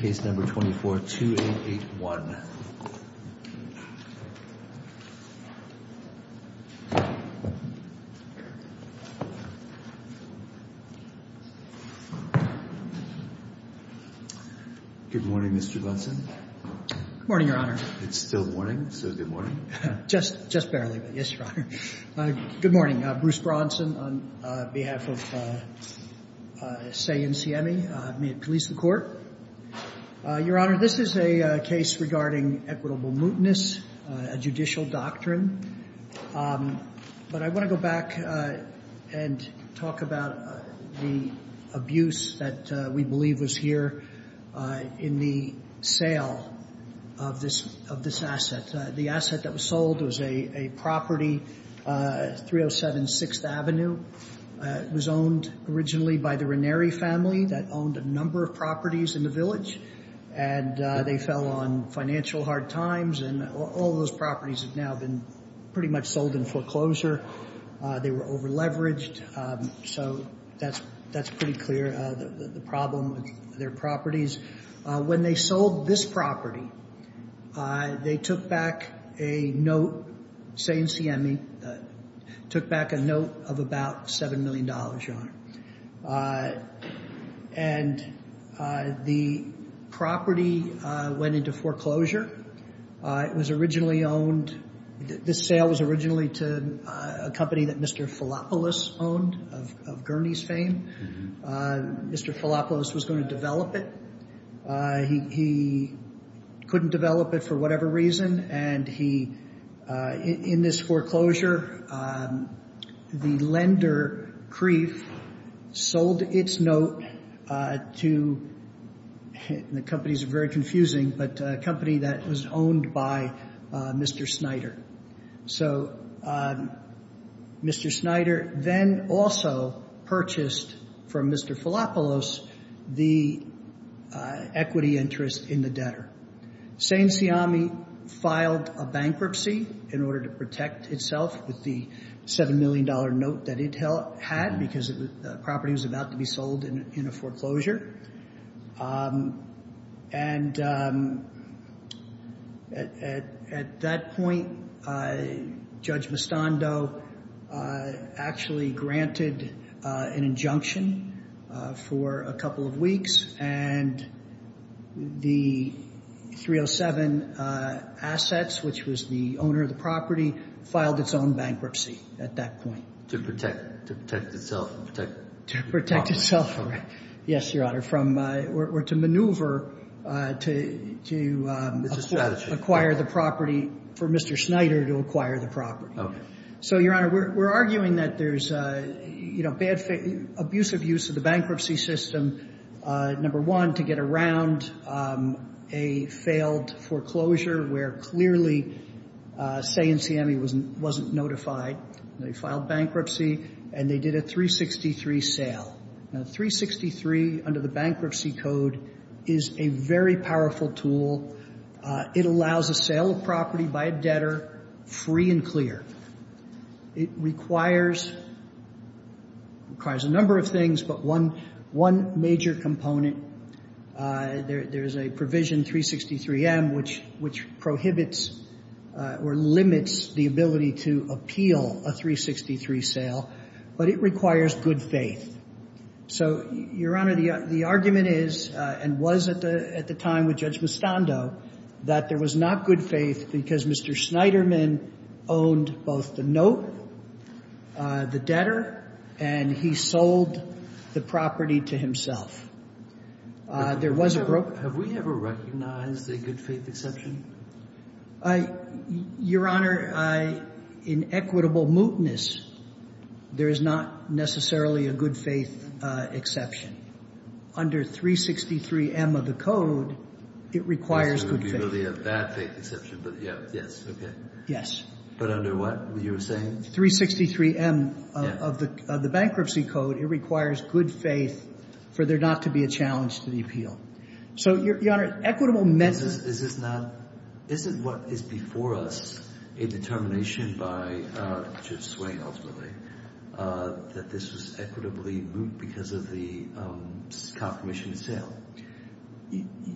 case number 24-2881. Good morning, Mr. Brunson. Morning, Your Honor. It's still morning. So good morning. Just, just barely, but yes, Your Honor. Good morning, Bruce Brunson on behalf of SEI-NCME. I'm here to police the court. Your Honor, this is a case regarding equitable mootness, a judicial doctrine. But I want to go back and talk about the abuse that we believe was here in the sale of this, of this asset. The asset that was sold was a property, 307 6th Avenue. It was owned originally by the Ranieri family that owned a number of properties in the village. And they fell on financial hard times and all of those properties have now been pretty much sold in foreclosure. They were over leveraged. So that's, that's pretty clear the problem with their properties. When they sold this property, they took back a note, SEI-NCME, took back a note of about $7 million, Your Honor. And the property went into foreclosure. It was originally owned, this sale was originally to a company that Mr. Filopoulos owned of Gurney's fame. Mr. Filopoulos was going to develop it. He couldn't develop it for whatever reason. And he, in this foreclosure, the lender, Kreef, sold its note to, the company's very confusing, but a company that was owned by Mr. So, Mr. Snyder then also purchased from Mr. Filopoulos, the equity interest in the debtor. SEI-NCME filed a bankruptcy in order to protect itself with the $7 million note that it had, because the property was about to be sold in a foreclosure. And at that point, Judge Mostondo actually granted an injunction for a couple of weeks and the 307 assets, which was the owner of the property, filed its own bankruptcy at that point. To protect itself. To protect itself. Yes, Your Honor. From, or to maneuver, to acquire the property, for Mr. Snyder to acquire the property. So, Your Honor, we're arguing that there's a, you know, bad, abusive use of the bankruptcy system. Number one, to get around a failed foreclosure where clearly SEI-NCME wasn't notified, they filed bankruptcy and they did a 363 sale. Now, 363 under the bankruptcy code is a very powerful tool. It allows a sale of property by a debtor, free and clear. It requires a number of things, but one major component, there's a provision 363M, which prohibits or limits the ability to appeal a 363 sale, but it requires good faith. So, Your Honor, the argument is, and was at the time with Judge Mustando, that there was not good faith because Mr. Snyderman owned both the note, the debtor, and he sold the property to himself. There was a broker. Have we ever recognized a good faith exception? I, Your Honor, I, in equitable mootness, there is not necessarily a good faith exception. Under 363M of the code, it requires good faith. It's the ability of that faith exception, but yeah, yes, okay. Yes. But under what you were saying? 363M of the bankruptcy code, it requires good faith for there not to be a challenge to the appeal. So, Your Honor, equitable mootness. Is this not, this is what is before us, a determination by Judge Swain, ultimately, that this was equitably moot because of the confirmation of sale?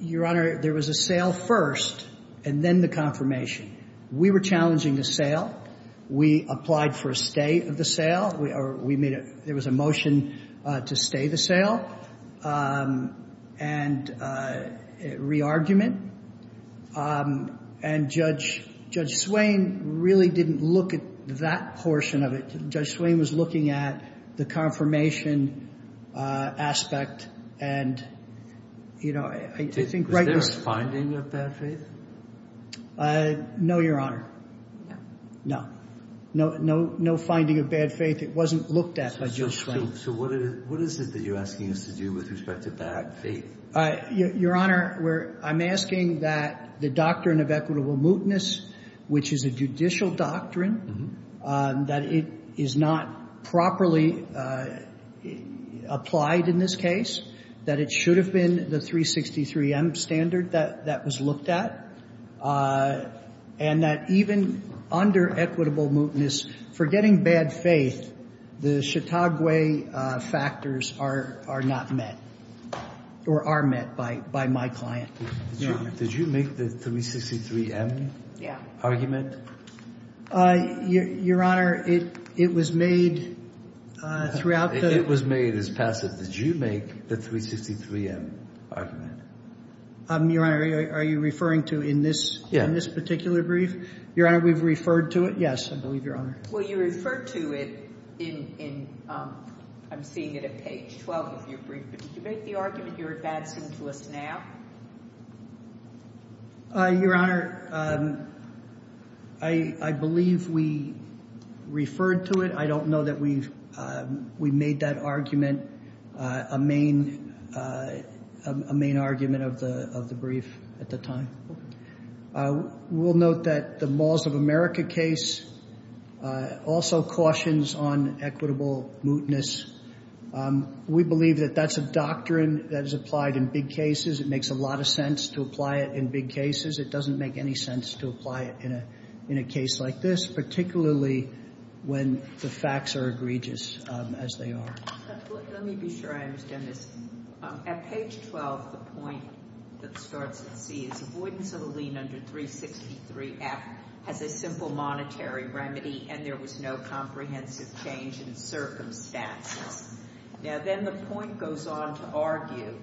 Your Honor, there was a sale first and then the confirmation. We were challenging the sale. We applied for a stay of the sale. We made a, there was a motion to stay the sale and re-argument, and Judge Swain really didn't look at that portion of it. Judge Swain was looking at the confirmation aspect and, you know, I think... Was there a finding of bad faith? No, Your Honor. No. No, no, no finding of bad faith. It wasn't looked at by Judge Swain. So what is it that you're asking us to do with respect to bad faith? Your Honor, we're, I'm asking that the doctrine of equitable mootness, which is a judicial doctrine, that it is not properly applied in this case, that it should have been the 363M standard that was looked at, and that even under equitable mootness, for getting bad faith, the Chautauqua factors are not met or are met by my client. Did you make the 363M argument? Your Honor, it was made throughout the... It was made as passive. Did you make the 363M argument? Your Honor, are you referring to in this particular brief? Your Honor, we've referred to it. Yes, I believe, Your Honor. Well, you referred to it in, I'm seeing it at page 12 of your brief, but did you make the argument you're advancing to us now? Your Honor, I believe we referred to it. I don't know that we've made that argument a main argument of the brief at the time. We'll note that the Malls of America case also cautions on equitable mootness. We believe that that's a doctrine that is applied in big cases. It makes a lot of sense to apply it in big cases. It doesn't make any sense to apply it in a case like this, particularly when the facts are egregious as they are. Let me be sure I understand this. At page 12, the point that starts at C is avoidance of a lien under 363F has a simple monetary remedy, and there was no comprehensive change in circumstances. Now, then the point goes on to argue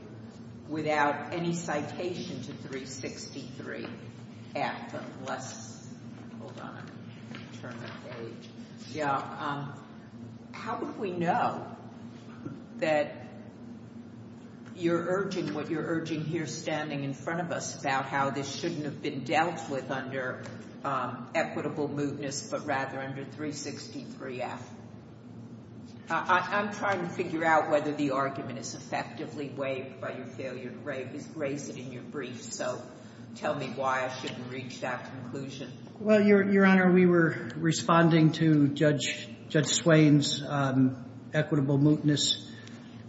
without any citation to 363F, let's hold on and turn that page. Yeah, how would we know that you're urging what you're urging here standing in front of us about how this shouldn't have been dealt with under equitable mootness, but rather under 363F? I'm trying to figure out whether the argument is effectively waived by your failure to raise it in your brief, so tell me why I shouldn't reach that conclusion. Well, Your Honor, we were responding to Judge Swain's equitable mootness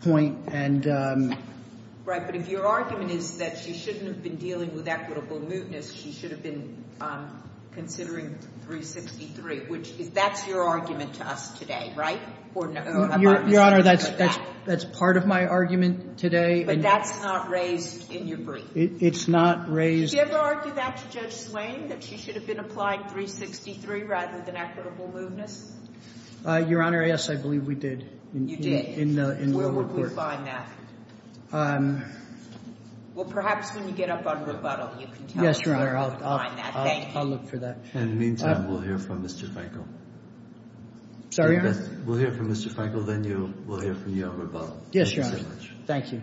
point and... Right, but if your argument is that she shouldn't have been dealing with equitable mootness, she should have been considering 363, which is, that's your argument to us today, right? Your Honor, that's part of my argument today. But that's not raised in your brief? It's not raised... Did you ever argue that to Judge Swain, that she should have been applying 363 rather than equitable mootness? Your Honor, yes, I believe we did. You did? In the report. Where would we find that? Well, perhaps when you get up on rebuttal, you can tell us. Yes, Your Honor, I'll look for that. In the meantime, we'll hear from Mr. Frenkel. Sorry, Your Honor? We'll hear from Mr. Frenkel, then we'll hear from you on rebuttal. Yes, Your Honor. Thank you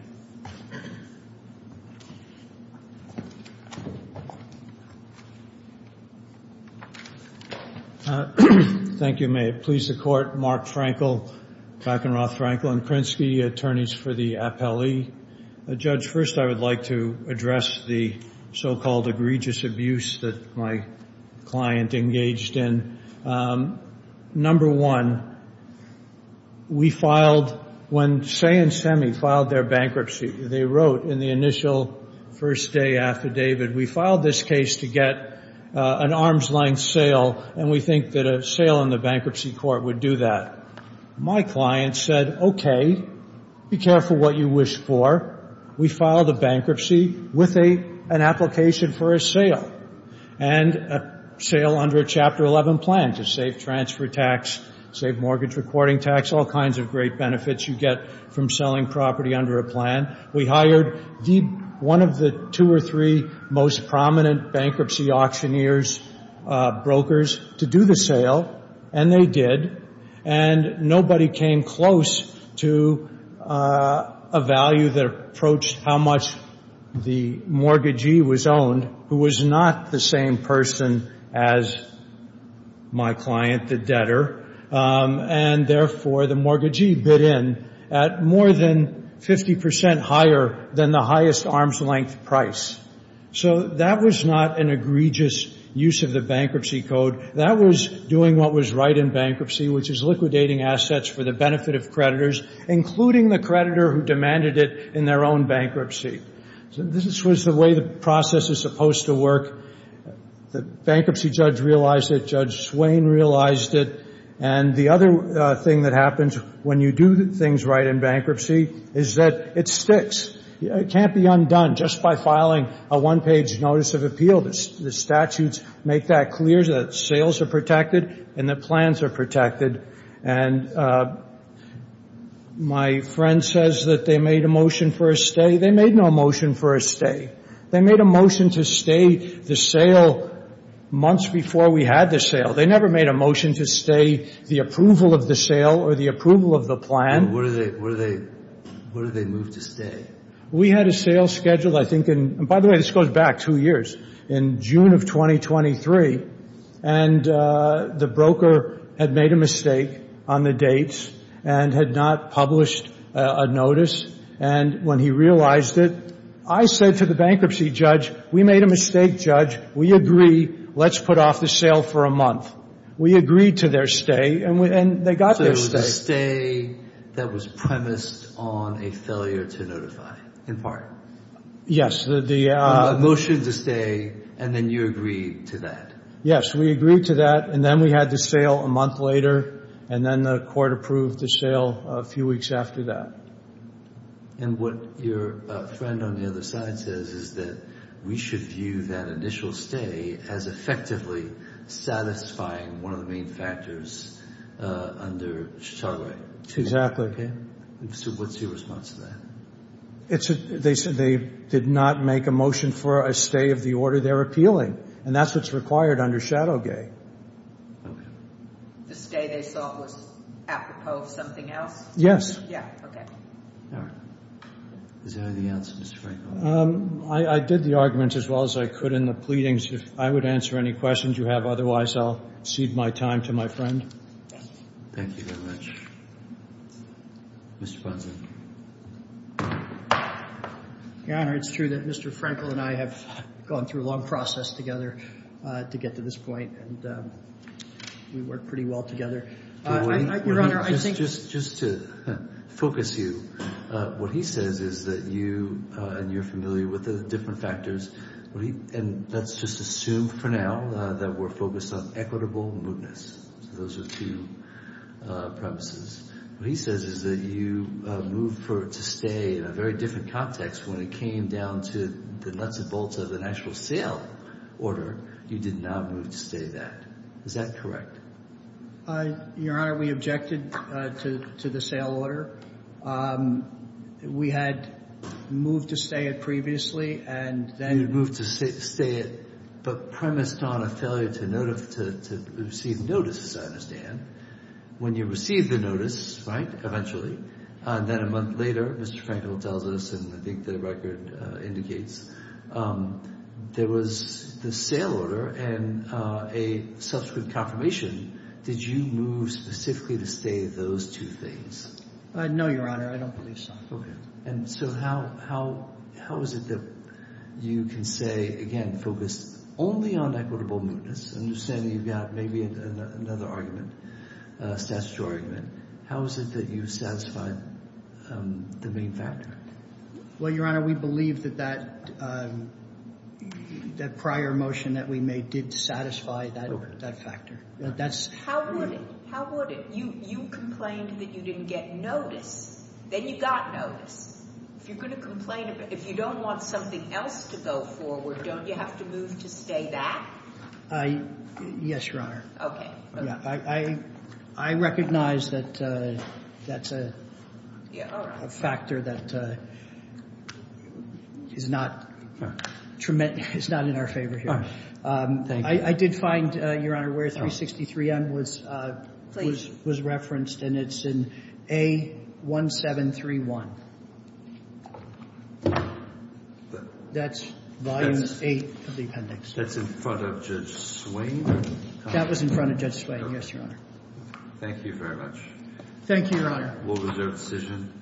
so much. Thank you, may it please the Court, Mark Frenkel, Bakkenroth Frenkel, and Krinsky, attorneys for the appellee. Judge, first I would like to address the so-called egregious abuse that my client engaged in. Number one, we filed... When Say and Semi filed their bankruptcy, they wrote in the initial first day affidavit, we filed this case to get an arm's length sale, and we think that a sale in the bankruptcy court would do that. My client said, okay, be careful what you wish for. We filed a bankruptcy with an application for a sale, and a sale under a Chapter 11 plan to save transfer tax, save mortgage recording tax, all kinds of great benefits you get from selling property under a plan. We hired one of the two or three most prominent bankruptcy auctioneers, brokers, to do the sale, and they did, and nobody came close to a value that approached how much the mortgagee was owned, who was not the same person as my client, the debtor, and therefore the mortgagee bid in at more than 50 percent higher than the highest arm's length price. So that was not an egregious use of the bankruptcy code. That was doing what was right in bankruptcy, which is liquidating assets for the benefit of creditors, including the creditor who demanded it in their own bankruptcy. This was the way the process is supposed to work. The bankruptcy judge realized it. Judge Swain realized it. And the other thing that happens when you do things right in bankruptcy is that it sticks. It can't be undone just by filing a one-page notice of appeal. The statutes make that clear that sales are protected and that plans are protected. And my friend says that they made a motion for a stay. They made no motion for a stay. They made a motion to stay the sale months before we had the sale. They never made a motion to stay the approval of the sale or the approval of the plan. And what did they move to stay? We had a sale scheduled, I think, in – and by the way, this goes back two years. In June of 2023, and the broker had made a mistake on the dates and had not published a notice. And when he realized it, I said to the bankruptcy judge, we made a mistake, Judge. We agree. Let's put off the sale for a month. We agreed to their stay. And they got their stay. So it was a stay that was premised on a failure to notify, in part? Yes, the – A motion to stay, and then you agreed to that. Yes, we agreed to that. And then we had the sale a month later. And then the court approved the sale a few weeks after that. And what your friend on the other side says is that we should view that initial stay as effectively satisfying one of the main factors under Chicago Act. Exactly. So what's your response to that? It's a – they said they did not make a motion for a stay of the order they're appealing. And that's what's required under Shadowgate. The stay they sought was apropos of something else? Yes. Yeah, okay. Is there anything else, Mr. Franklin? I did the argument as well as I could in the pleadings. If I would answer any questions you have. Otherwise, I'll cede my time to my friend. Thank you very much. Mr. Ponson. Your Honor, it's true that Mr. Franklin and I have gone through a long process together to get to this point. And we work pretty well together. Your Honor, I think – Just to focus you, what he says is that you – and you're familiar with the different factors, and let's just assume for now that we're focused on equitable mootness. So those are two premises. What he says is that you moved for it to stay in a very different context when it came down to the nuts and bolts of an actual sale order. You did not move to stay that. Is that correct? Your Honor, we objected to the sale order. We had moved to stay it previously, and then – You moved to stay it, but premised on a failure to receive notice, as I understand. When you received the notice, right, eventually, and then a month later, Mr. Franklin tells us, and I think the record indicates, there was the sale order and a subsequent confirmation. Did you move specifically to stay those two things? No, Your Honor. I don't believe so. And so how is it that you can say, again, focus only on equitable mootness, understanding you've got maybe another argument, a statutory argument, how is it that you satisfied the main factor? Well, Your Honor, we believe that that prior motion that we made did satisfy that factor. How would it? You complained that you didn't get notice. Then you got notice. If you're going to complain, if you don't want something else to go forward, don't you have to move to stay that? I – yes, Your Honor. Okay. I recognize that that's a factor that is not in our favor here. Oh, thank you. I did find, Your Honor, where 363M was referenced, and it's in A1731. That's Volume 8 of the appendix. That's in front of Judge Swain? That was in front of Judge Swain, yes, Your Honor. Thank you very much. Thank you, Your Honor. We'll reserve the decision.